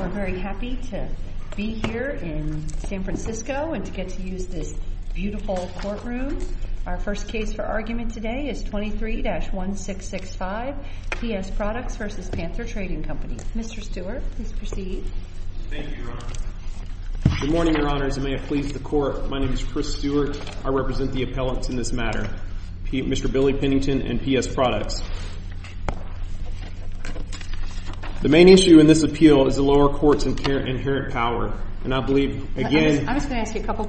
We're very happy to be here in San Francisco and to get to use this beautiful courtroom. Our first case for argument today is 23-1665, P.S. Products v. Panther Trading Co. Mr. Stewart, please proceed. Thank you, Your Honor. Good morning, Your Honors, and may it please the Court, my name is Chris Stewart, I represent the appellants in this matter, Mr. Billy Pennington and P.S. Products. The main issue in this appeal is the lower court's inherent power, and I believe, again – I'm just going to ask you a couple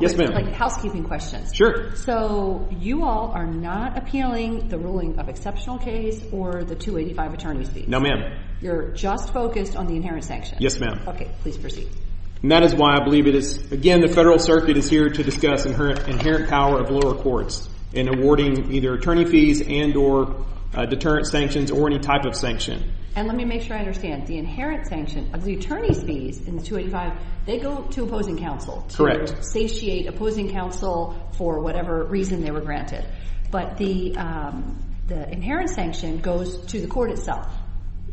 housekeeping questions. Sure. So, you all are not appealing the ruling of exceptional case or the 285 attorney's fees? No, ma'am. You're just focused on the inherent sanctions? Yes, ma'am. Okay, please proceed. And that is why I believe it is, again, the Federal Circuit is here to discuss inherent power of lower courts in awarding either attorney fees and or deterrent sanctions or any type of sanction. And let me make sure I understand, the inherent sanction of the attorney's fees in the 285, they go to opposing counsel to satiate opposing counsel for whatever reason they were granted. But the inherent sanction goes to the court itself,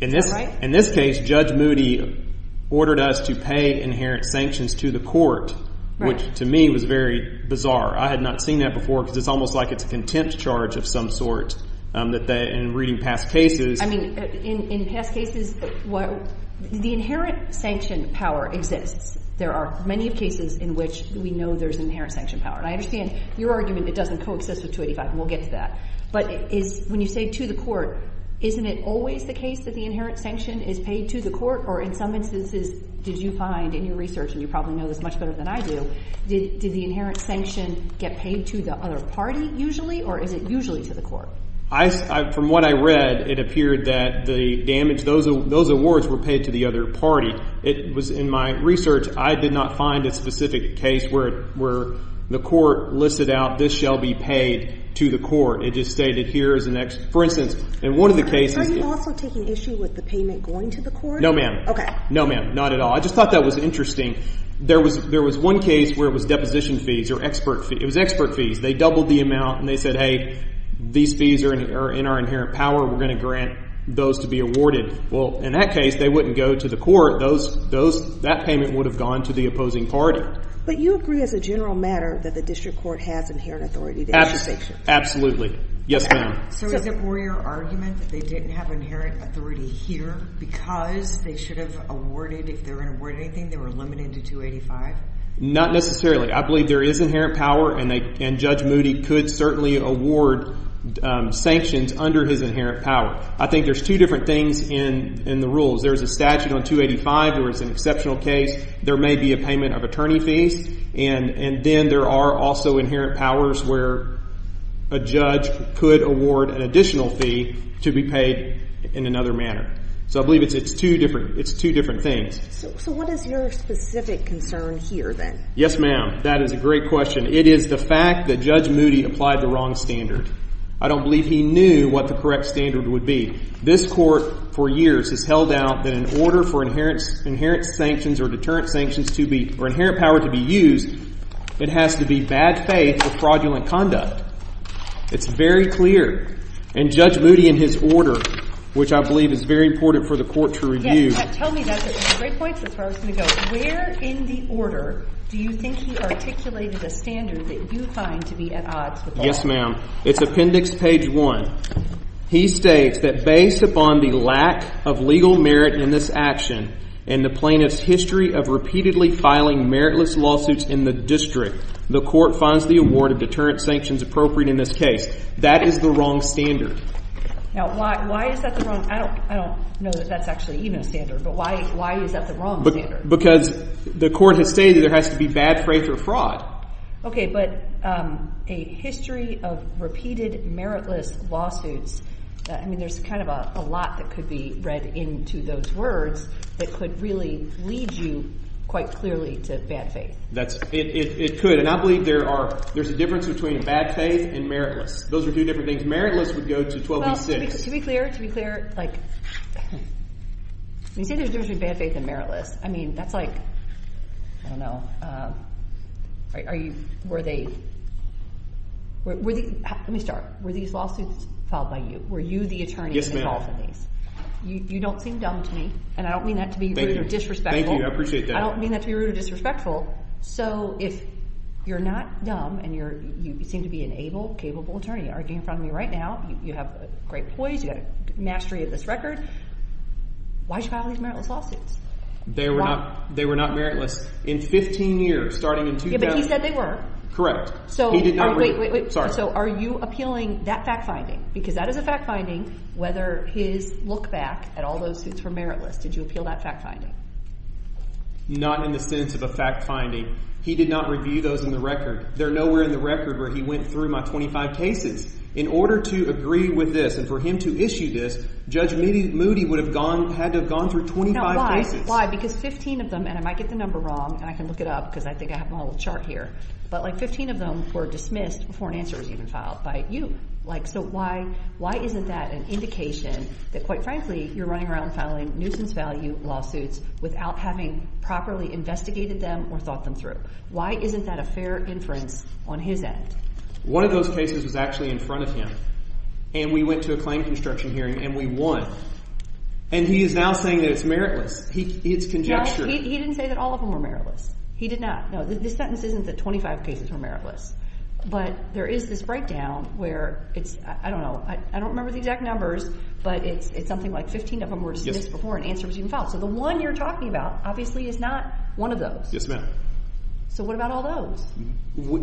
right? In this case, Judge Moody ordered us to pay inherent sanctions to the court, which to me was very bizarre. I had not seen that before, because it's almost like it's a contempt charge of some sort that they – in reading past cases – I mean, in past cases, the inherent sanction power exists. There are many cases in which we know there's inherent sanction power. And I understand your argument it doesn't coexist with 285, and we'll get to that. But is – when you say to the court, isn't it always the case that the inherent sanction is paid to the court? Or in some instances, did you find in your research – and you probably know this much better than I do – did the inherent sanction get paid to the other party, usually? Or is it usually to the court? From what I read, it appeared that the damage – those awards were paid to the other party. It was – in my research, I did not find a specific case where the court listed out this shall be paid to the court. It just stated here is the next – for instance, in one of the cases – Are you also taking issue with the payment going to the court? No, ma'am. No, ma'am. Not at all. I just thought that was interesting. There was – there was one case where it was deposition fees or expert – it was expert fees. They doubled the amount, and they said, hey, these fees are in our inherent power. We're going to grant those to be awarded. Well, in that case, they wouldn't go to the court. Those – that payment would have gone to the opposing party. But you agree, as a general matter, that the district court has inherent authority to issue sanctions? Absolutely. Yes, ma'am. So is it more your argument that they didn't have inherent authority here because they should have awarded – if they were going to award anything, they were limited to 285? Not necessarily. I believe there is inherent power, and Judge Moody could certainly award sanctions under his inherent power. I think there's two different things in the rules. There's a statute on 285 where it's an exceptional case. There may be a payment of attorney fees, and then there are also inherent powers where a judge could award an additional fee to be paid in another manner. So I believe it's two different – it's two different things. So what is your specific concern here, then? Yes, ma'am. That is a great question. It is the fact that Judge Moody applied the wrong standard. I don't believe he knew what the correct standard would be. This Court, for years, has held out that in order for inherent sanctions or deterrent sanctions to be – or inherent power to be used, it has to be bad faith or fraudulent conduct. It's very clear. And Judge Moody, in his order, which I believe is very important for the Court to review – Yes. Tell me – that's a great point. That's where I was going to go. Where in the order do you think he articulated a standard that you find to be at odds with Yes, ma'am. It's Appendix Page 1. He states that based upon the lack of legal merit in this action and the plaintiff's history of repeatedly filing meritless lawsuits in the district, the Court finds the award of deterrent sanctions appropriate in this case. That is the wrong standard. Now, why is that the wrong – I don't know that that's actually even a standard, but why is that the wrong standard? Because the Court has stated there has to be bad faith or fraud. Okay, but a history of repeated meritless lawsuits – I mean, there's kind of a lot that could be read into those words that could really lead you quite clearly to bad faith. That's – it could. And I believe there are – there's a difference between bad faith and meritless. Those are two different things. Meritless would go to 12b-6. Well, to be clear, to be clear, like, when you say there's a difference between bad faith and meritless, I mean, that's like – I don't know – are you – were they – were the – let me start. Were these lawsuits filed by you? Were you the attorney involved in these? You don't seem dumb to me, and I don't mean that to be rude or disrespectful. Thank you. I appreciate that. I don't mean that to be rude or disrespectful. So if you're not dumb and you're – you seem to be an able, capable attorney arguing in front of me right now, you have great poise, you have a mastery of this record, why should you file these meritless lawsuits? They were not – they were not meritless in 15 years, starting in 2000. Yeah, but he said they were. Correct. He did not – Wait, wait, wait. Sorry. So are you appealing that fact-finding? Because that is a fact-finding, whether his look-back at all those suits were meritless. Did you appeal that fact-finding? Not in the sense of a fact-finding. He did not review those in the record. They're nowhere in the record where he went through my 25 cases. In order to agree with this and for him to issue this, Judge Moody would have gone – had to have gone through 25 cases. Why? Because 15 of them – and I might get the number wrong, and I can look it up because I think I have my little chart here – but like 15 of them were dismissed before an answer was even filed by you. Like so why – why isn't that an indication that, quite frankly, you're running around filing nuisance value lawsuits without having properly investigated them or thought them through? Why isn't that a fair inference on his end? One of those cases was actually in front of him, and we went to a claim construction hearing, and we won. And he is now saying that it's meritless. It's conjecture. Well, he didn't say that all of them were meritless. He did not. No, this sentence isn't that 25 cases were meritless. But there is this breakdown where it's – I don't know. I don't remember the exact numbers, but it's something like 15 of them were dismissed before an answer was even filed. So the one you're talking about, obviously, is not one of those. Yes, ma'am. So what about all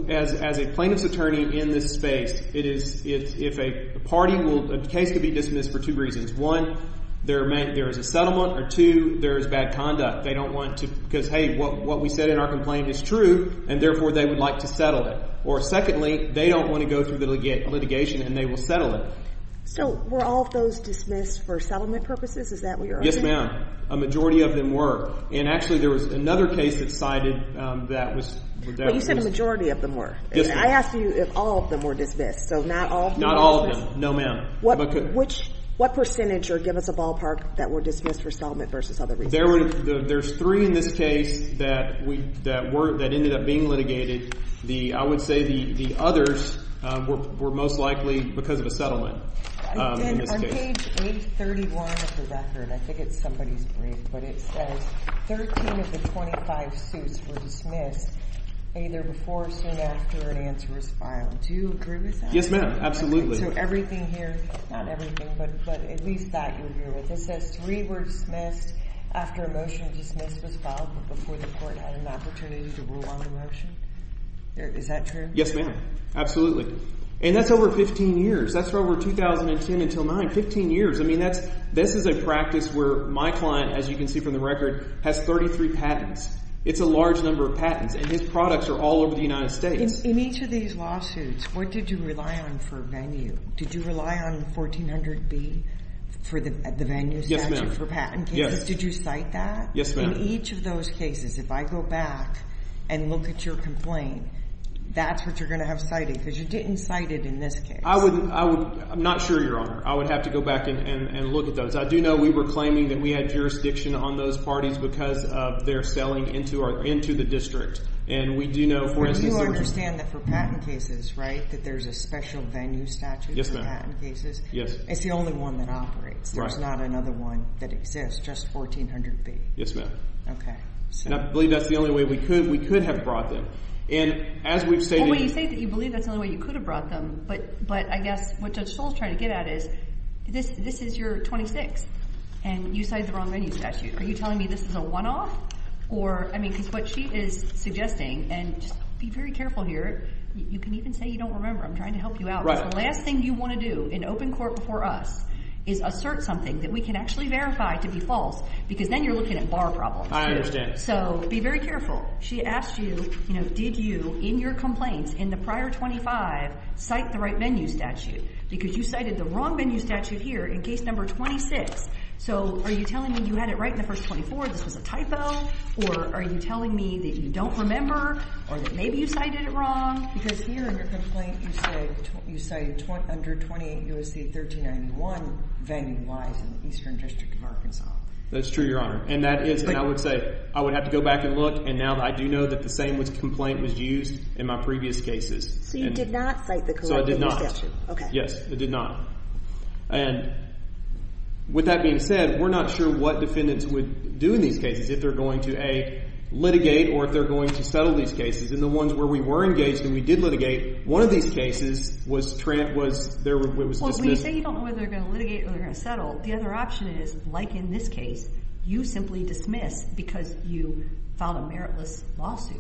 those? As a plaintiff's attorney in this space, it is – if a party will – a case could be dismissed for two reasons. One, there is a settlement, or two, there is bad conduct. They don't want to – because, hey, what we said in our complaint is true, and therefore they would like to settle it. Or secondly, they don't want to go through the litigation and they will settle it. So were all of those dismissed for settlement purposes? Is that what you're arguing? Yes, ma'am. A majority of them were. And actually, there was another case that cited that was – But you said a majority of them were. Yes, ma'am. And I asked you if all of them were dismissed. So not all of them were dismissed? Not all of them. No, ma'am. What – which – what percentage, or give us a ballpark, that were dismissed for settlement versus other reasons? There were – there's three in this case that were – that ended up being litigated. The – I would say the others were most likely because of a settlement in this case. On page 831 of the record, I think it's somebody's brief, but it says 13 of the 25 suits were dismissed either before or soon after an answer was filed. Do you agree with that? Yes, ma'am. Absolutely. So everything here – not everything, but at least that you're here with. It says three were dismissed after a motion to dismiss was filed but before the court had an opportunity to rule on the motion? Is that true? Yes, ma'am. Absolutely. And that's over 15 years. That's from over 2010 until 9. Fifteen years. I mean, that's – this is a practice where my client, as you can see from the record, has 33 patents. It's a large number of patents, and his products are all over the United States. In each of these lawsuits, what did you rely on for venue? Did you rely on 1400B for the venue statute for patent cases? Did you cite that? Yes, ma'am. So in each of those cases, if I go back and look at your complaint, that's what you're going to have cited because you didn't cite it in this case. I would – I'm not sure, Your Honor. I would have to go back and look at those. I do know we were claiming that we had jurisdiction on those parties because of their selling into the district. And we do know, for instance – But you understand that for patent cases, right, that there's a special venue statute for patent cases? Yes. It's the only one that operates. Right. There's not another one that exists, just 1400B. Yes, ma'am. And I believe that's the only way we could have brought them. And as we've stated – Well, when you say that you believe that's the only way you could have brought them, but I guess what Judge Stoll is trying to get at is this is your 26th, and you cite the wrong venue statute. Are you telling me this is a one-off? Or – I mean, because what she is suggesting – and just be very careful here. You can even say you don't remember. I'm trying to help you out. Right. Because the last thing you want to do in open court before us is assert something that we can actually verify to be false, because then you're looking at bar problems. I understand. So be very careful. She asked you, you know, did you in your complaints in the prior 25 cite the right venue statute? Because you cited the wrong venue statute here in case number 26. So are you telling me you had it right in the first 24, this was a typo? Or are you telling me that you don't remember? Or that maybe you cited it wrong? Because here in your complaint you say under 28 U.S.C. 1391 venue lies in the eastern district of Arkansas. That's true, Your Honor. And that is – and I would say I would have to go back and look, and now I do know that the same complaint was used in my previous cases. So you did not cite the correct venue statute? So I did not. Okay. Yes, I did not. And with that being said, we're not sure what defendants would do in these cases if they're going to, A, litigate or if they're going to settle these cases. In the ones where we were engaged and we did litigate, one of these cases was there was dismissal. Well, when you say you don't know whether they're going to litigate or they're going to settle, the other option is, like in this case, you simply dismiss because you filed a meritless lawsuit.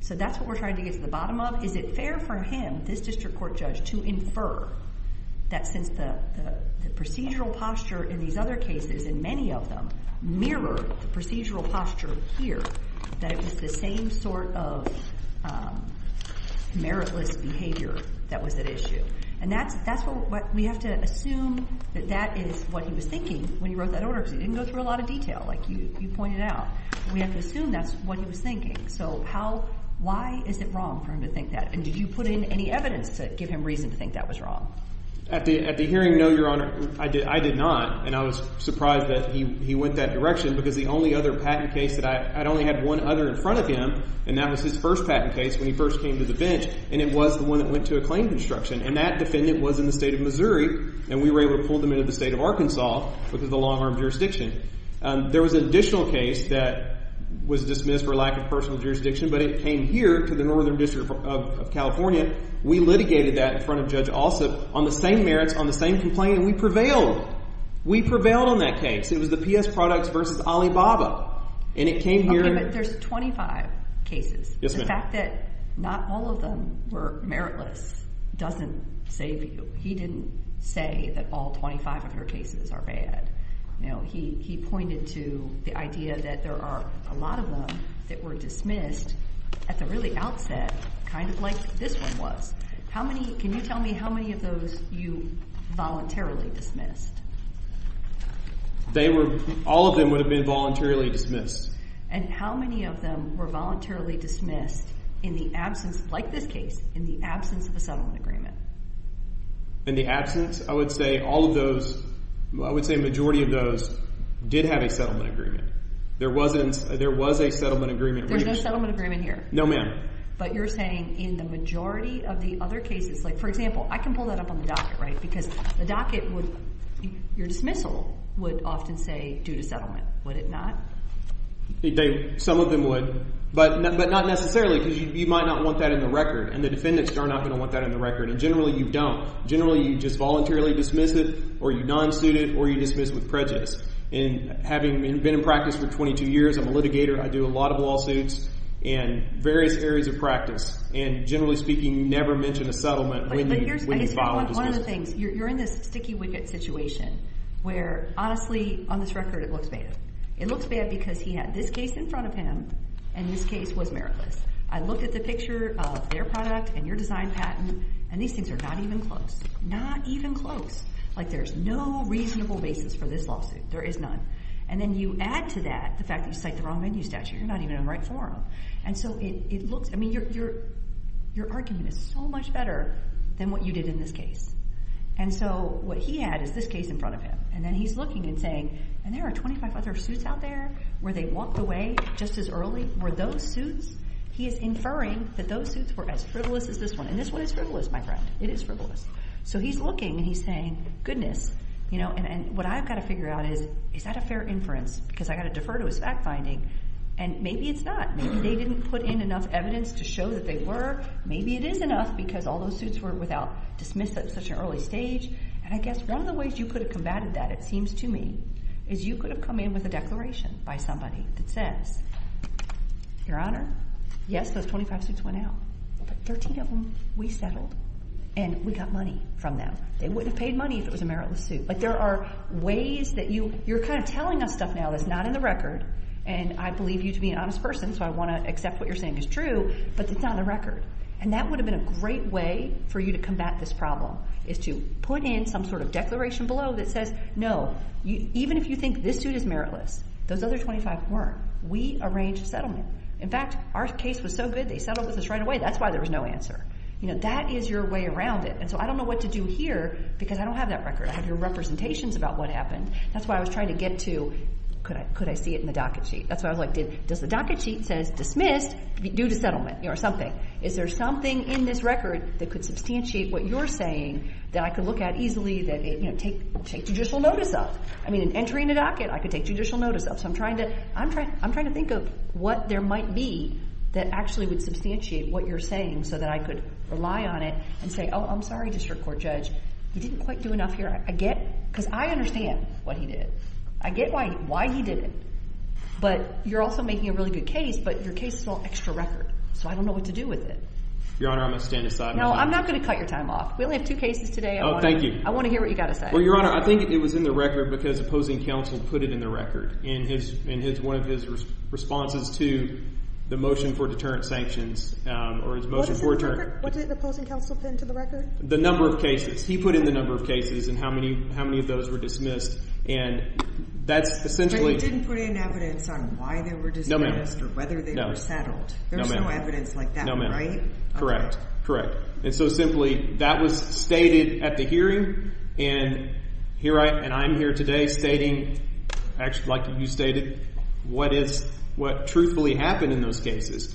So that's what we're trying to get to the bottom of. Is it fair for him, this district court judge, to infer that since the procedural posture in these other cases, and many of them, mirror the procedural posture here, that it was the same sort of meritless behavior that was at issue? And that's what we have to assume that that is what he was thinking when he wrote that order because he didn't go through a lot of detail like you pointed out. We have to assume that's what he was thinking. So why is it wrong for him to think that? And did you put in any evidence to give him reason to think that was wrong? At the hearing, no, Your Honor, I did not. And I was surprised that he went that direction because the only other patent case that I only had one other in front of him, and that was his first patent case when he first came to the bench, and it was the one that went to a claim construction, and that defendant was in the state of Missouri, and we were able to pull them into the state of Arkansas because of the long-arm jurisdiction. There was an additional case that was dismissed for lack of personal jurisdiction, but it came here to the Northern District of California. We litigated that in front of Judge Alsup on the same merits, on the same complaint, and we prevailed. We prevailed on that case. It was the P.S. Products v. Alibaba, and it came here. Okay, but there's 25 cases. Yes, ma'am. The fact that not all of them were meritless doesn't save you. He didn't say that all 25 of your cases are bad. He pointed to the idea that there are a lot of them that were dismissed at the really outset, kind of like this one was. How many – can you tell me how many of those you voluntarily dismissed? They were – all of them would have been voluntarily dismissed. And how many of them were voluntarily dismissed in the absence, like this case, in the absence of a settlement agreement? In the absence? I would say all of those – I would say a majority of those did have a settlement agreement. There was a settlement agreement. There's no settlement agreement here? No, ma'am. But you're saying in the majority of the other cases – like, for example, I can pull that up on the docket, right? Because the docket would – your dismissal would often say due to settlement. Would it not? Some of them would, but not necessarily because you might not want that in the record, and the defendants are not going to want that in the record. And generally, you don't. Generally, you just voluntarily dismiss it, or you non-suit it, or you dismiss with prejudice. And having been in practice for 22 years – I'm a litigator. I do a lot of lawsuits in various areas of practice. And generally speaking, never mention a settlement when you file a dismissal. One of the things – you're in this sticky wicket situation where, honestly, on this record, it looks bad. It looks bad because he had this case in front of him, and this case was meritless. I looked at the picture of their product and your design patent, and these things are not even close. Not even close. Like, there's no reasonable basis for this lawsuit. There is none. And then you add to that the fact that you cite the wrong venue statute. You're not even in the right forum. And so it looks – I mean, your argument is so much better than what you did in this case. And so what he had is this case in front of him. And then he's looking and saying, and there are 25 other suits out there where they walked away just as early. Were those suits – he is inferring that those suits were as frivolous as this one. And this one is frivolous, my friend. It is frivolous. So he's looking, and he's saying, goodness. And what I've got to figure out is, is that a fair inference? Because I've got to defer to his fact-finding. And maybe it's not. Maybe they didn't put in enough evidence to show that they were. Maybe it is enough because all those suits were without dismissal at such an early stage. And I guess one of the ways you could have combated that, it seems to me, is you could have come in with a declaration by somebody that says, Your Honor, yes, those 25 suits went out. But 13 of them we settled. And we got money from them. They wouldn't have paid money if it was a meritless suit. But there are ways that you – you're kind of telling us stuff now that's not in the record. And I believe you to be an honest person, so I want to accept what you're saying is true, but it's not in the record. And that would have been a great way for you to combat this problem, is to put in some sort of declaration below that says, No, even if you think this suit is meritless, those other 25 weren't. We arranged settlement. In fact, our case was so good, they settled with us right away. That's why there was no answer. That is your way around it. And so I don't know what to do here because I don't have that record. I have your representations about what happened. That's why I was trying to get to could I see it in the docket sheet. That's why I was like, does the docket sheet say dismissed due to settlement or something? Is there something in this record that could substantiate what you're saying that I could look at easily that it – take judicial notice of? I mean, an entry in the docket I could take judicial notice of. So I'm trying to think of what there might be that actually would substantiate what you're saying so that I could rely on it and say, Oh, I'm sorry, District Court Judge, you didn't quite do enough here. I get – because I understand what he did. I get why he didn't. But you're also making a really good case, but your case is all extra record. So I don't know what to do with it. Your Honor, I'm going to stand aside. No, I'm not going to cut your time off. We only have two cases today. Oh, thank you. I want to hear what you've got to say. Well, Your Honor, I think it was in the record because opposing counsel put it in the record in his – in his – one of his responses to the motion for deterrent sanctions or his motion for – What is the record? What did opposing counsel put into the record? The number of cases. He put in the number of cases and how many – how many of those were dismissed. And that's essentially – But you didn't put in evidence on why they were dismissed or whether they were settled. There's no evidence like that, right? No, ma'am. Correct. Correct. And so simply, that was stated at the hearing, and here I – and I'm here today stating – actually, like you stated – what is – what truthfully happened in those cases.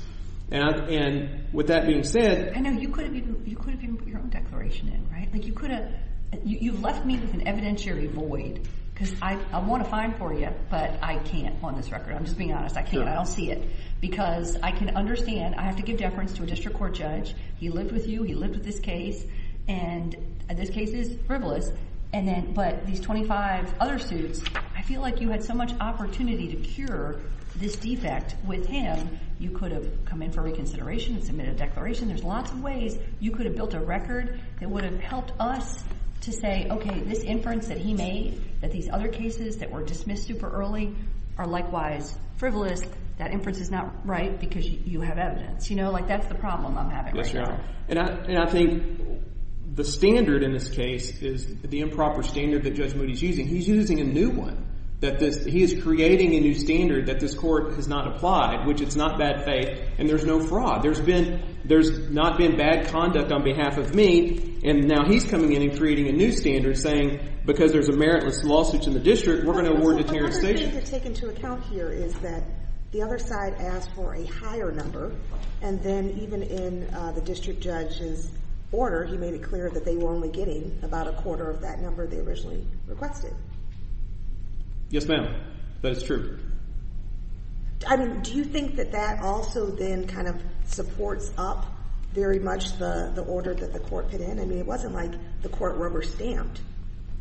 And with that being said – I know. You could have even put your own declaration in, right? Like you could have – you've left me with an evidentiary void because I want to find for you, but I can't on this record. I'm just being honest. I can't. I don't see it. Because I can understand. I have to give deference to a district court judge. He lived with you. He lived with this case. And this case is frivolous. And then – but these 25 other suits, I feel like you had so much opportunity to cure this defect with him. You could have come in for reconsideration and submitted a declaration. There's lots of ways you could have built a record that would have helped us to say, okay, this inference that he made that these other cases that were dismissed super early are likewise frivolous. That inference is not right because you have evidence. You know, like that's the problem I'm having right now. And I think the standard in this case is the improper standard that Judge Moody's using. He's using a new one. That this – he is creating a new standard that this court has not applied, which it's not bad faith. And there's no fraud. There's been – there's not been bad conduct on behalf of me. And now he's coming in and creating a new standard saying because there's a meritless lawsuit in the district, we're going to award deterrent station. So one thing to take into account here is that the other side asked for a higher number and then even in the district judge's order, he made it clear that they were only getting about a quarter of that number they originally requested. Yes, ma'am. That is true. I mean, do you think that that also then kind of supports up very much the order that the court put in? I mean, it wasn't like the court rubber-stamped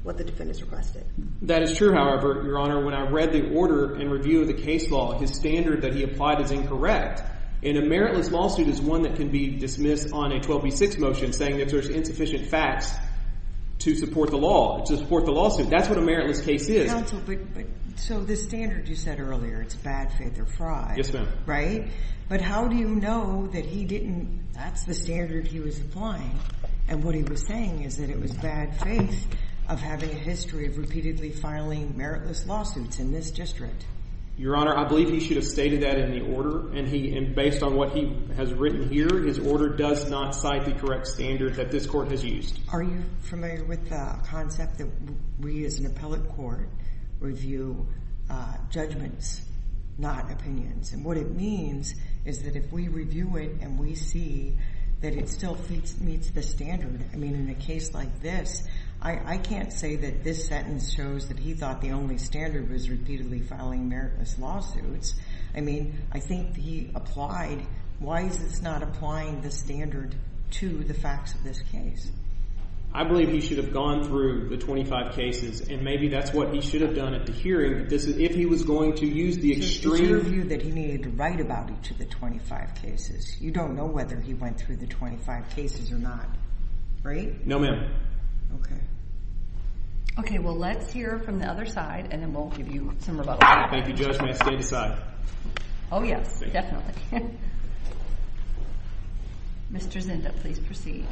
what the defendants requested. That is true, however, Your Honor. When I read the order in review of the case law, his standard that he applied is incorrect. And a meritless lawsuit is one that can be dismissed on a 12B6 motion saying that there's insufficient facts to support the law – to support the lawsuit. That's what a meritless case is. Counsel, but so this standard you said earlier, it's bad faith or fraud. Yes, ma'am. Right? But how do you know that he didn't – that's the standard he was applying. And what he was saying is that it was bad faith of having a history of repeatedly filing meritless lawsuits in this district. Your Honor, I believe he should have stated that in the order. And based on what he has written here, his order does not cite the correct standard that this court has used. Are you familiar with the concept that we as an appellate court review judgments, not opinions? And what it means is that if we review it and we see that it still meets the standard, I mean, in a case like this, I can't say that this sentence shows that he thought the only standard was repeatedly filing meritless lawsuits. I mean, I think he applied – why is this not applying the standard to the facts of this case? I believe he should have gone through the 25 cases and maybe that's what he should have done at the hearing if he was going to use the extreme – He should have reviewed that he needed to write about each of the 25 cases. You don't know whether he went through the 25 cases or not. Right? No, ma'am. Okay. Okay. Well, let's hear from the other side and then we'll give you some rebuttal. Thank you, Judge. May I stand aside? Oh, yes. Definitely. Mr. Zinda, please proceed.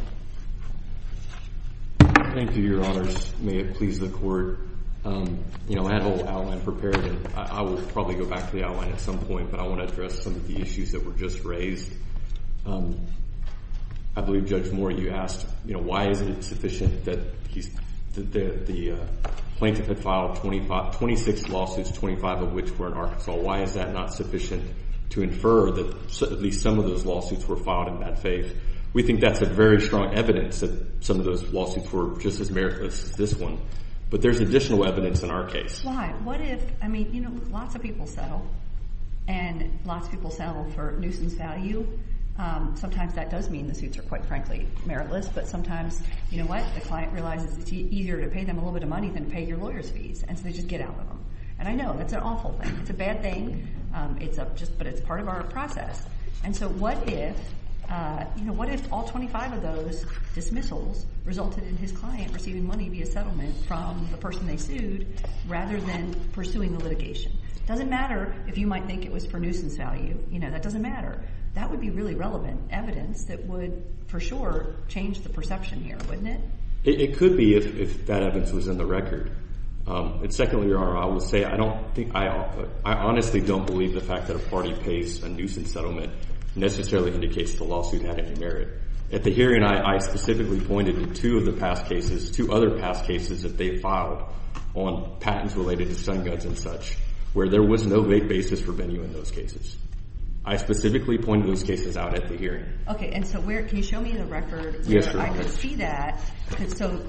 Thank you, Your Honors. May it please the Court. You know, I had the whole outline prepared and I will probably go back to the outline at some point, but I want to address some of the issues that were just raised. I believe, Judge Moore, you asked, you know, why is it insufficient that the plaintiff had filed 26 lawsuits, 25 of which were in Arkansas. Why is that not sufficient to infer that at least some of those lawsuits were filed in bad faith? We think that's a very strong evidence that some of those lawsuits were just as meritless as this one, but there's additional evidence in our case. Why? What if, I mean, you know, lots of people settle and lots of people settle for nuisance value. Sometimes that does mean the suits are quite frankly meritless, but sometimes, you know what, the client realizes it's easier to pay them a little bit of money than pay your lawyer's fees, and so they just get out with them. And I know that's an awful thing. It's a bad thing, but it's part of our process. And so what if, you know, what if all 25 of those dismissals resulted in his client receiving money via settlement from the person they sued rather than pursuing the litigation? It doesn't matter if you might think it was for nuisance value. You know, that doesn't matter. That would be really relevant evidence that would, for sure, change the perception here, wouldn't it? It could be if that evidence was in the record. And secondly, I will say I don't think I honestly don't believe the fact that a settlement necessarily indicates the lawsuit had any merit. At the hearing, I specifically pointed to two of the past cases, two other past cases that they filed on patents related to stun guns and such, where there was no vague basis for venue in those cases. I specifically pointed those cases out at the hearing. Okay, and so can you show me the record so that I can see that? So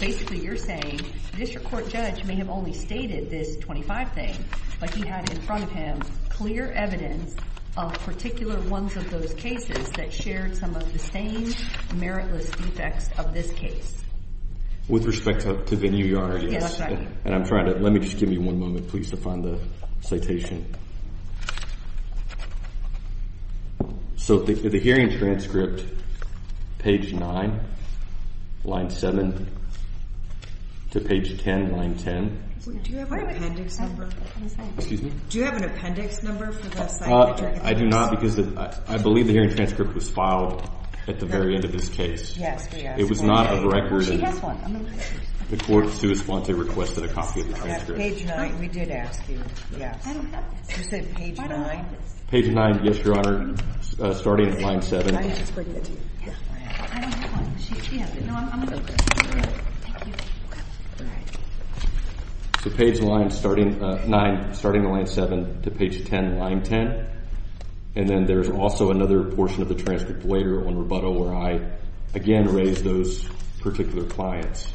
basically you're saying the district court judge may have only stated this thing, but he had in front of him clear evidence of particular ones of those cases that shared some of the same meritless defects of this case. With respect to venue yard, yes. And I'm trying to, let me just give you one moment, please, to find the So the hearing transcript, page 9, line 7, to page 10, line 10. Do you have an appendix number? Excuse me? Do you have an appendix number for this? I do not because I believe the hearing transcript was filed at the very end of this case. Yes. It was not a record. She has one. I'm going to look at it. The court, to his fault, requested a copy of the transcript. Page 9. We did ask you. Yes. You said page 9? Page 9, yes, Your Honor, starting at line 7. I know. I don't have one. She has it. No, I'm going to look at it. Thank you. All right. So page 9, starting at line 7, to page 10, line 10. And then there's also another portion of the transcript later on rebuttal where I, again, raise those particular clients.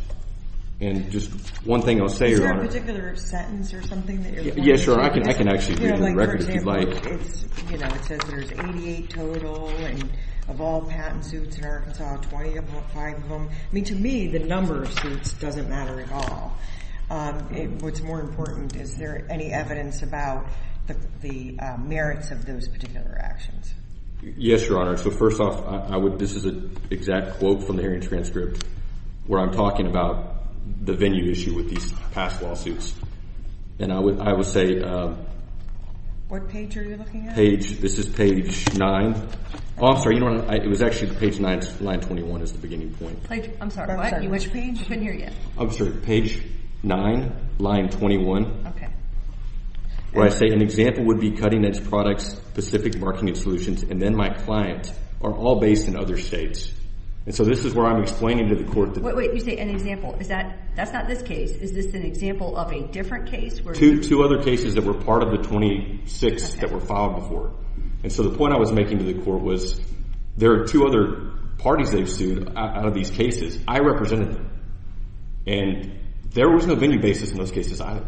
And just one thing I'll say, Your Honor. Is there a particular sentence or something that you're going to say? Yeah, sure. I can actually read the record if you'd like. For example, it says there's 88 total, and of all patent suits in Arkansas, 20 of them, five of them. I mean, to me, the number of suits doesn't matter at all. What's more important, is there any evidence about the merits of those particular actions? Yes, Your Honor. So first off, this is an exact quote from the hearings transcript where I'm talking about the venue issue with these past lawsuits. And I would say. What page are you looking at? This is page 9. Officer, it was actually page 9, line 21 is the beginning point. I'm sorry, what? Which page? I couldn't hear you. I'm sorry, page 9, line 21. Okay. Where I say an example would be cutting-edge products, specific marketing solutions, and then my clients are all based in other states. And so this is where I'm explaining to the court. Wait, wait, you say an example. That's not this case. Is this an example of a different case? Two other cases that were part of the 26 that were filed before. And so the point I was making to the court was there are two other parties they've sued out of these cases. I represented them. And there was no venue basis in those cases either.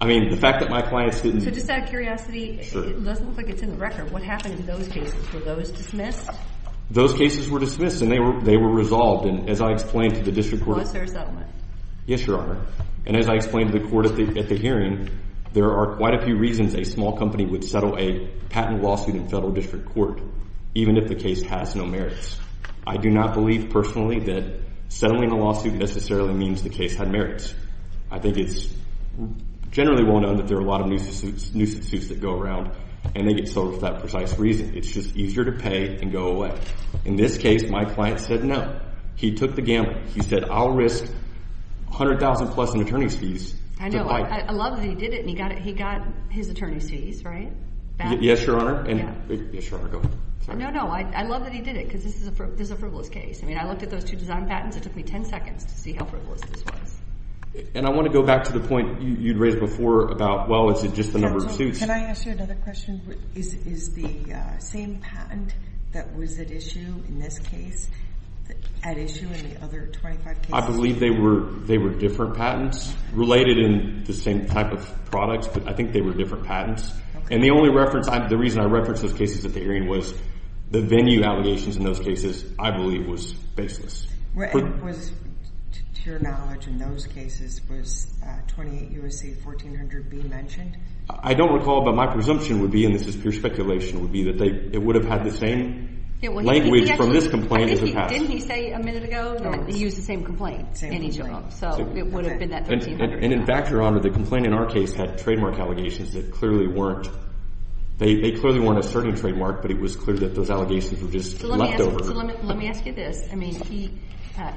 I mean, the fact that my clients didn't. So just out of curiosity, it doesn't look like it's in the record. What happened in those cases? Were those dismissed? Those cases were dismissed, and they were resolved. And as I explained to the district court. Was there a settlement? Yes, Your Honor. And as I explained to the court at the hearing, there are quite a few reasons a small company would settle a patent lawsuit in federal district court even if the case has no merits. I do not believe personally that settling a lawsuit necessarily means the case had merits. I think it's generally well known that there are a lot of nuisance suits that go around, and they get sold for that precise reason. It's just easier to pay and go away. In this case, my client said no. He took the gamble. He said, I'll risk $100,000 plus in attorney's fees to fight. I love that he did it, and he got his attorney's fees, right? Yes, Your Honor. Yes, Your Honor. Go ahead. No, no. I love that he did it because this is a frivolous case. I mean, I looked at those two design patents. It took me 10 seconds to see how frivolous this was. And I want to go back to the point you'd raised before about, well, is it just the number of suits? Can I ask you another question? Is the same patent that was at issue in this case at issue in the other 25 cases? I believe they were different patents related in the same type of products, but I think they were different patents. And the reason I referenced those cases at the hearing was the venue allegations in those cases, I believe, was baseless. To your knowledge, in those cases, was 28 U.S.C. 1400B mentioned? I don't recall, but my presumption would be, and this is pure speculation, would be that it would have had the same language from this complaint as the patent. Didn't he say a minute ago that he used the same complaint in each of them? So it would have been that 1300B. And, in fact, Your Honor, the complaint in our case had trademark allegations that clearly weren't – they clearly weren't a certain trademark, but it was clear that those allegations were just leftover. So let me ask you this. I mean, he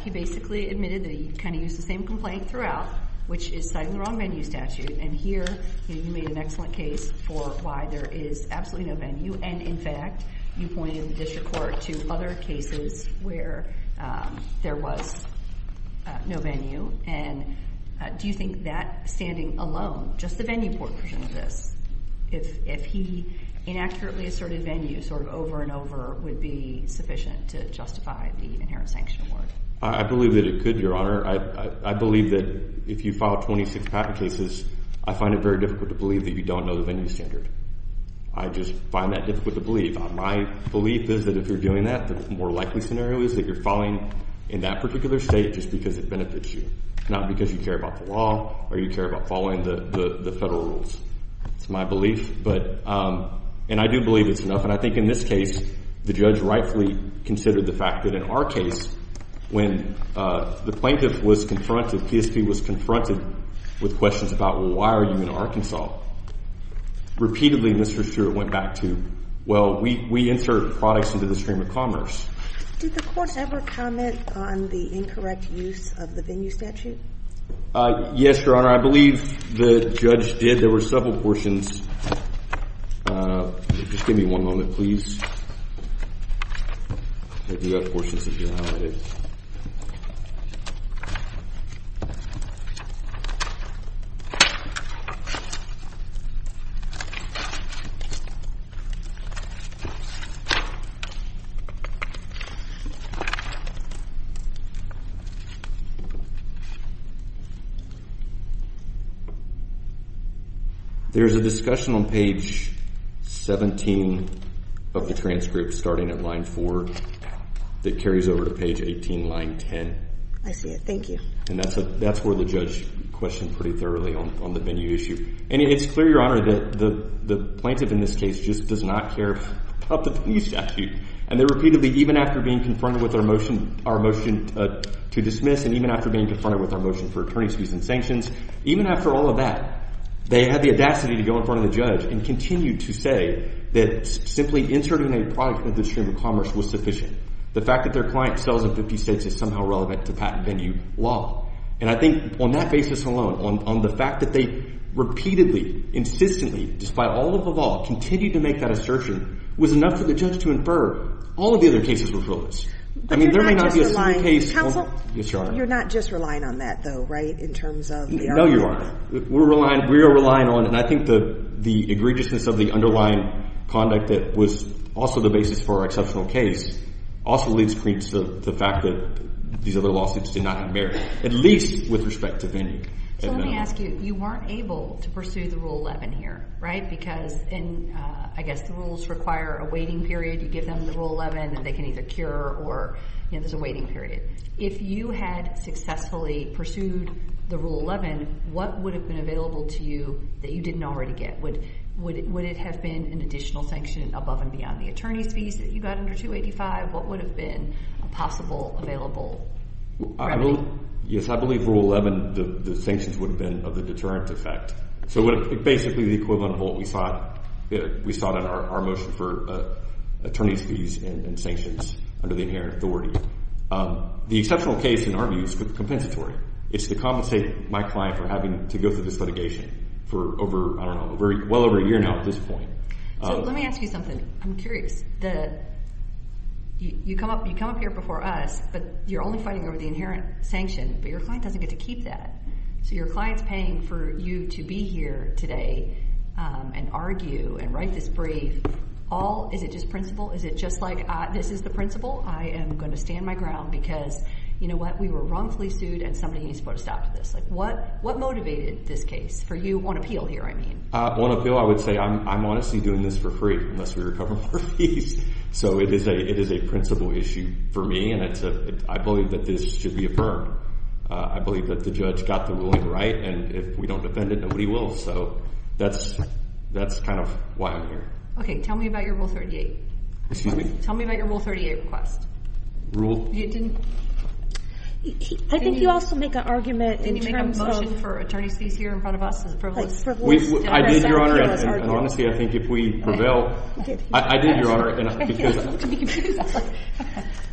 basically admitted that he kind of used the same complaint throughout, which is citing the wrong venue statute. And here you made an excellent case for why there is absolutely no venue. And, in fact, you pointed the district court to other cases where there was no venue. And do you think that standing alone, just the venue portion of this, if he inaccurately asserted venue sort of over and over would be sufficient to justify the inherent sanction award? I believe that it could, Your Honor. I believe that if you file 26 patent cases, I find it very difficult to believe that you don't know the venue standard. I just find that difficult to believe. My belief is that if you're doing that, the more likely scenario is that you're filing in that particular state just because it benefits you, not because you care about the law or you care about following the federal rules. It's my belief. And I do believe it's enough. And I think in this case the judge rightfully considered the fact that in our case, when the plaintiff was confronted, PSP was confronted with questions about, well, why are you in Arkansas? Repeatedly, Mr. Stewart went back to, well, we insert products into the stream of commerce. Did the court ever comment on the incorrect use of the venue statute? Yes, Your Honor. I believe the judge did. There were several portions. Just give me one moment, please. I do have portions of your honor. Okay. There's a discussion on page 17 of the transcript starting at line 4 that carries over to page 18, line 10. I see it. Thank you. And that's where the judge questioned pretty thoroughly on the venue issue. And it's clear, Your Honor, that the plaintiff in this case just does not care about the venue statute. And they repeatedly, even after being confronted with our motion to dismiss and even after being confronted with our motion for attorney's fees and sanctions, even after all of that, they had the audacity to go in front of the judge and continue to say that simply inserting a product into the stream of commerce was sufficient. The fact that their client sells in 50 states is somehow relevant to patent venue law. And I think on that basis alone, on the fact that they repeatedly, insistently, despite all of the law, continued to make that assertion, was enough for the judge to infer all of the other cases were flawless. But you're not just relying, counsel. Yes, Your Honor. You're not just relying on that, though, right, in terms of the argument? No, Your Honor. We are relying on, and I think the egregiousness of the underlying conduct that was also the basis for our exceptional case also leads to the fact that these other lawsuits did not merit, at least with respect to venue. So let me ask you. You weren't able to pursue the Rule 11 here, right? Because I guess the rules require a waiting period. You give them the Rule 11 and they can either cure or there's a waiting period. If you had successfully pursued the Rule 11, what would have been available to you that you didn't already get? Would it have been an additional sanction above and beyond the attorney's fees that you got under 285? What would have been possible available? Yes, I believe Rule 11, the sanctions would have been of the deterrent effect. So basically the equivalent of what we saw in our motion for attorney's fees and sanctions under the inherent authority. The exceptional case, in our view, is compensatory. It's to compensate my client for having to go through this litigation for over, I don't know, well over a year now at this point. So let me ask you something. I'm curious. You come up here before us, but you're only fighting over the inherent sanction, but your client doesn't get to keep that. So your client's paying for you to be here today and argue and write this brief. Is it just principle? Is it just like this is the principle? I am going to stand my ground because, you know what, we were wrongfully sued and somebody needs to put a stop to this. What motivated this case for you on appeal here, I mean? On appeal, I would say I'm honestly doing this for free unless we recover more fees. So it is a principle issue for me, and I believe that this should be affirmed. I believe that the judge got the ruling right, and if we don't defend it, nobody will. So that's kind of why I'm here. Okay, tell me about your Rule 38. Excuse me? Tell me about your Rule 38 request. I think you also make an argument in terms of Did you make a motion for attorney's fees here in front of us? I did, Your Honor. And honestly, I think if we prevail, I did, Your Honor.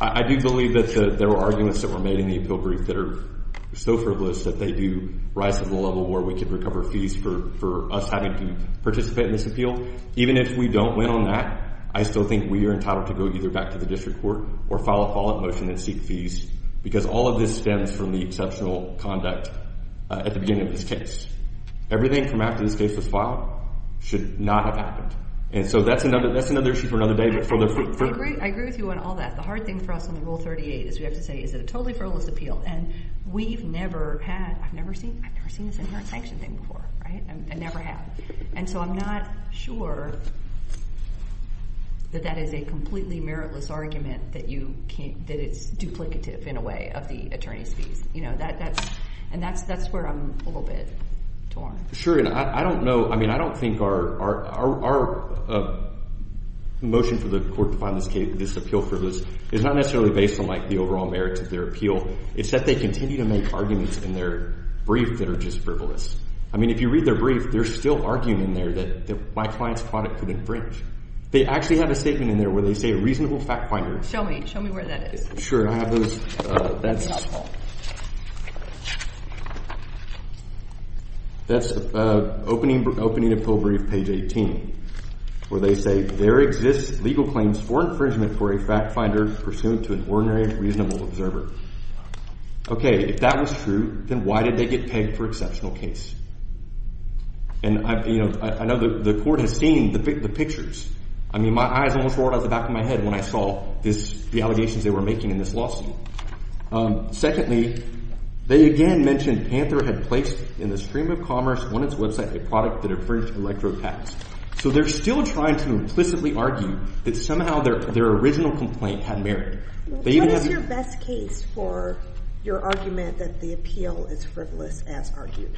I do believe that there were arguments that were made in the appeal brief that are so frivolous that they do rise to the level where we can recover fees for us having to participate in this appeal. Even if we don't win on that, I still think we are entitled to go either back to the district court or file a follow-up motion and seek fees because all of this stems from the exceptional conduct at the beginning of this case. Everything from after this case was filed should not have happened. And so that's another issue for another day. I agree with you on all that. The hard thing for us on the Rule 38 is we have to say, Is it a totally frivolous appeal? And we've never had, I've never seen this in our sanction thing before. I never have. And so I'm not sure that that is a completely meritless argument that it's duplicative in a way of the attorney's fees. And that's where I'm a little bit torn. Sure, and I don't know. I mean, I don't think our motion for the court to find this appeal frivolous is not necessarily based on the overall merit of their appeal. It's that they continue to make arguments in their brief that are just frivolous. I mean, if you read their brief, they're still arguing in there that my client's product could infringe. They actually have a statement in there where they say a reasonable fact finder. Show me. Show me where that is. Sure. I have those. That's helpful. That's opening of full brief, page 18, where they say there exists legal claims for infringement for a fact finder pursuant to an ordinary reasonable observer. Okay, if that was true, then why did they get pegged for exceptional case? And I know the court has seen the pictures. I mean, my eyes almost roared out the back of my head when I saw the allegations they were making in this lawsuit. Secondly, they again mentioned Panther had placed in the stream of commerce on its website a product that infringed electrode tax. So they're still trying to implicitly argue that somehow their original complaint had merit. What is your best case for your argument that the appeal is frivolous as argued?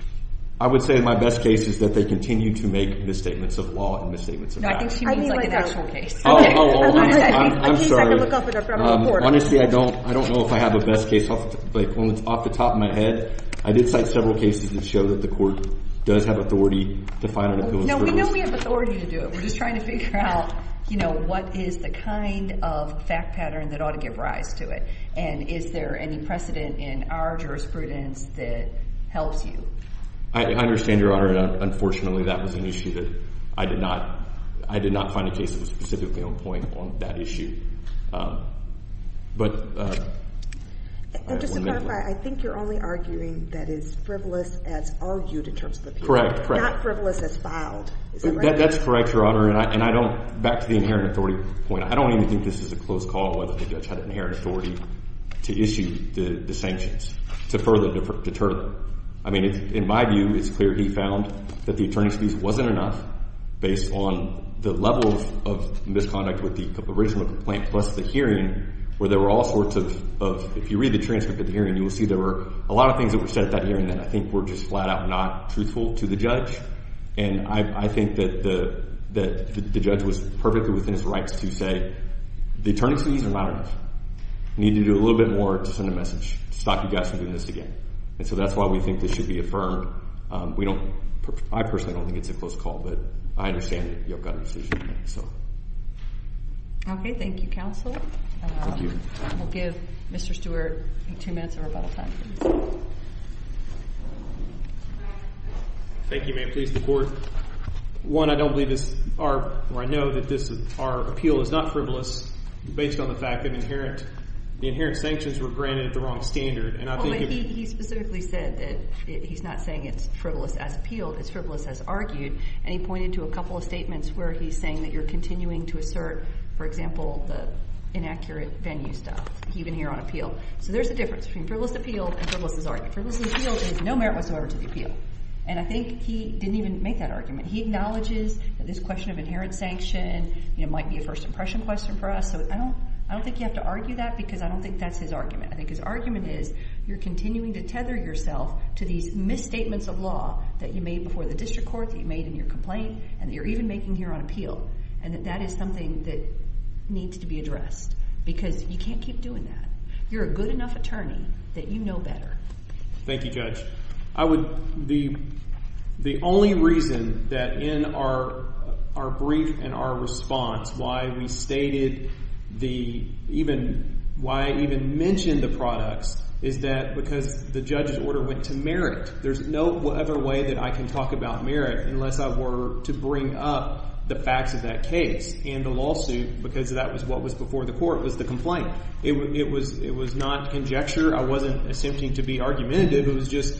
I would say my best case is that they continue to make misstatements of law and misstatements of facts. I think she means like an actual case. I'm sorry. Honestly, I don't know if I have a best case off the top of my head. I did cite several cases that show that the court does have authority to find an appeal as frivolous. No, we know we have authority to do it. We're just trying to figure out, you know, what is the kind of fact pattern that ought to give rise to it? And is there any precedent in our jurisprudence that helps you? I understand, Your Honor. Unfortunately, that was an issue that I did not find a case that was specifically on point on that issue. Just to clarify, I think you're only arguing that it's frivolous as argued in terms of the appeal. Correct. Not frivolous as filed. That's correct, Your Honor. And I don't – back to the inherent authority point. I don't even think this is a close call whether the judge had inherent authority to issue the sanctions to further deter them. I mean, in my view, it's clear he found that the attorney's piece wasn't enough based on the level of misconduct with the original complaint plus the hearing where there were all sorts of – if you read the transcript of the hearing, you will see there were a lot of things that were said at that hearing that I think were just flat out not truthful to the judge. And I think that the judge was perfectly within his rights to say, the attorney's piece is not enough. We need to do a little bit more to send a message to stop you guys from doing this again. And so that's why we think this should be affirmed. I personally don't think it's a close call, but I understand that you've got a decision to make. Okay. Thank you, counsel. Thank you. We'll give Mr. Stewart two minutes of rebuttal time. Thank you, ma'am. Please, the court. One, I don't believe this – or I know that our appeal is not frivolous based on the fact that the inherent sanctions were granted at the wrong standard. He specifically said that he's not saying it's frivolous as appealed. It's frivolous as argued, and he pointed to a couple of statements where he's saying that you're continuing to assert, for example, the inaccurate venue stuff even here on appeal. So there's a difference between frivolous as appealed and frivolous as argued. Frivolous as appealed is no merit whatsoever to the appeal, and I think he didn't even make that argument. He acknowledges that this question of inherent sanction might be a first-impression question for us, so I don't think you have to argue that because I don't think that's his argument. I think his argument is you're continuing to tether yourself to these misstatements of law that you made before the district court, that you made in your complaint, and that you're even making here on appeal, and that that is something that needs to be addressed because you can't keep doing that. You're a good enough attorney that you know better. Thank you, Judge. I would—the only reason that in our brief and our response why we stated the—why I even mentioned the products is that because the judge's order went to merit. There's no other way that I can talk about merit unless I were to bring up the facts of that case and the lawsuit because that was what was before the court was the complaint. It was not conjecture. I wasn't attempting to be argumentative. It was just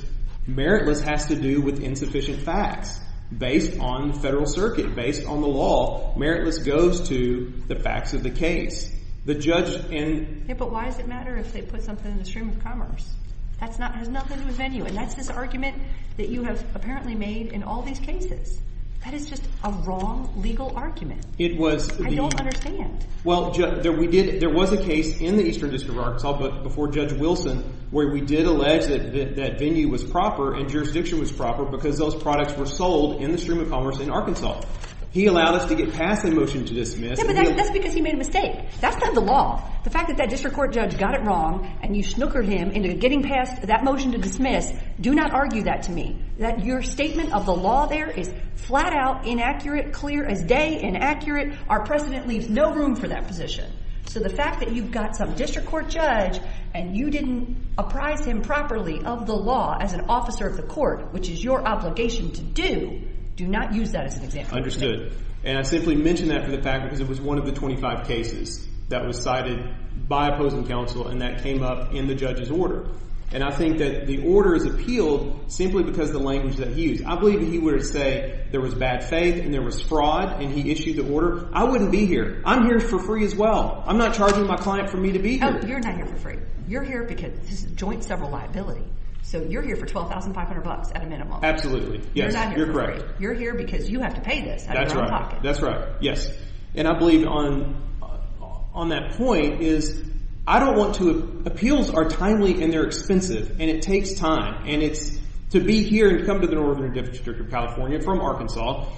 meritless has to do with insufficient facts based on the federal circuit, based on the law. Meritless goes to the facts of the case. The judge— But why does it matter if they put something in the stream of commerce? That has nothing to do with venue, and that's this argument that you have apparently made in all these cases. That is just a wrong legal argument. It was the— I don't understand. Well, there was a case in the Eastern District of Arkansas before Judge Wilson where we did allege that venue was proper and jurisdiction was proper because those products were sold in the stream of commerce in Arkansas. He allowed us to get past the motion to dismiss. Yeah, but that's because he made a mistake. That's not the law. The fact that that district court judge got it wrong and you snookered him into getting past that motion to dismiss, do not argue that to me. Your statement of the law there is flat out inaccurate, clear as day, inaccurate. Our precedent leaves no room for that position. So the fact that you've got some district court judge and you didn't apprise him properly of the law as an officer of the court, which is your obligation to do, do not use that as an example. Understood. And I simply mention that for the fact because it was one of the 25 cases that was cited by opposing counsel and that came up in the judge's order. And I think that the order is appealed simply because of the language that he used. I believe that he would have said there was bad faith and there was fraud and he issued the order. I wouldn't be here. I'm here for free as well. I'm not charging my client for me to be here. Oh, you're not here for free. You're here because this is joint several liability. So you're here for $12,500 at a minimum. Absolutely. Yes, you're correct. You're not here for free. You're here because you have to pay this out of your own pocket. That's right. That's right. Yes. And I believe on that point is appeals are timely and they're expensive and it takes time. And to be here and come to the Northern District of California from Arkansas,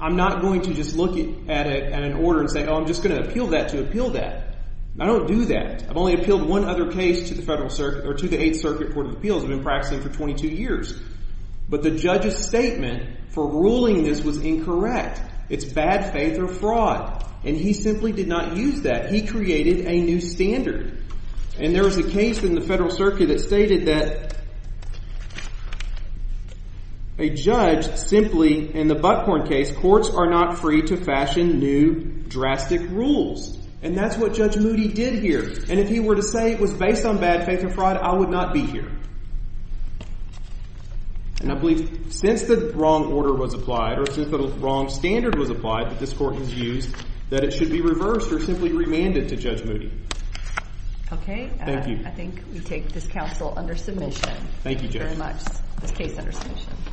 I'm not going to just look at an order and say, oh, I'm just going to appeal that to appeal that. I don't do that. I've only appealed one other case to the 8th Circuit Court of Appeals. I've been practicing for 22 years. But the judge's statement for ruling this was incorrect. It's bad faith or fraud. And he simply did not use that. He created a new standard. And there was a case in the Federal Circuit that stated that a judge simply, in the Butthorn case, courts are not free to fashion new drastic rules. And that's what Judge Moody did here. And if he were to say it was based on bad faith or fraud, I would not be here. And I believe since the wrong order was applied or since the wrong standard was applied that this court has used, that it should be reversed or simply remanded to Judge Moody. Okay. Thank you. I think we take this counsel under submission. Thank you, Judge. Thank you very much. This case under submission.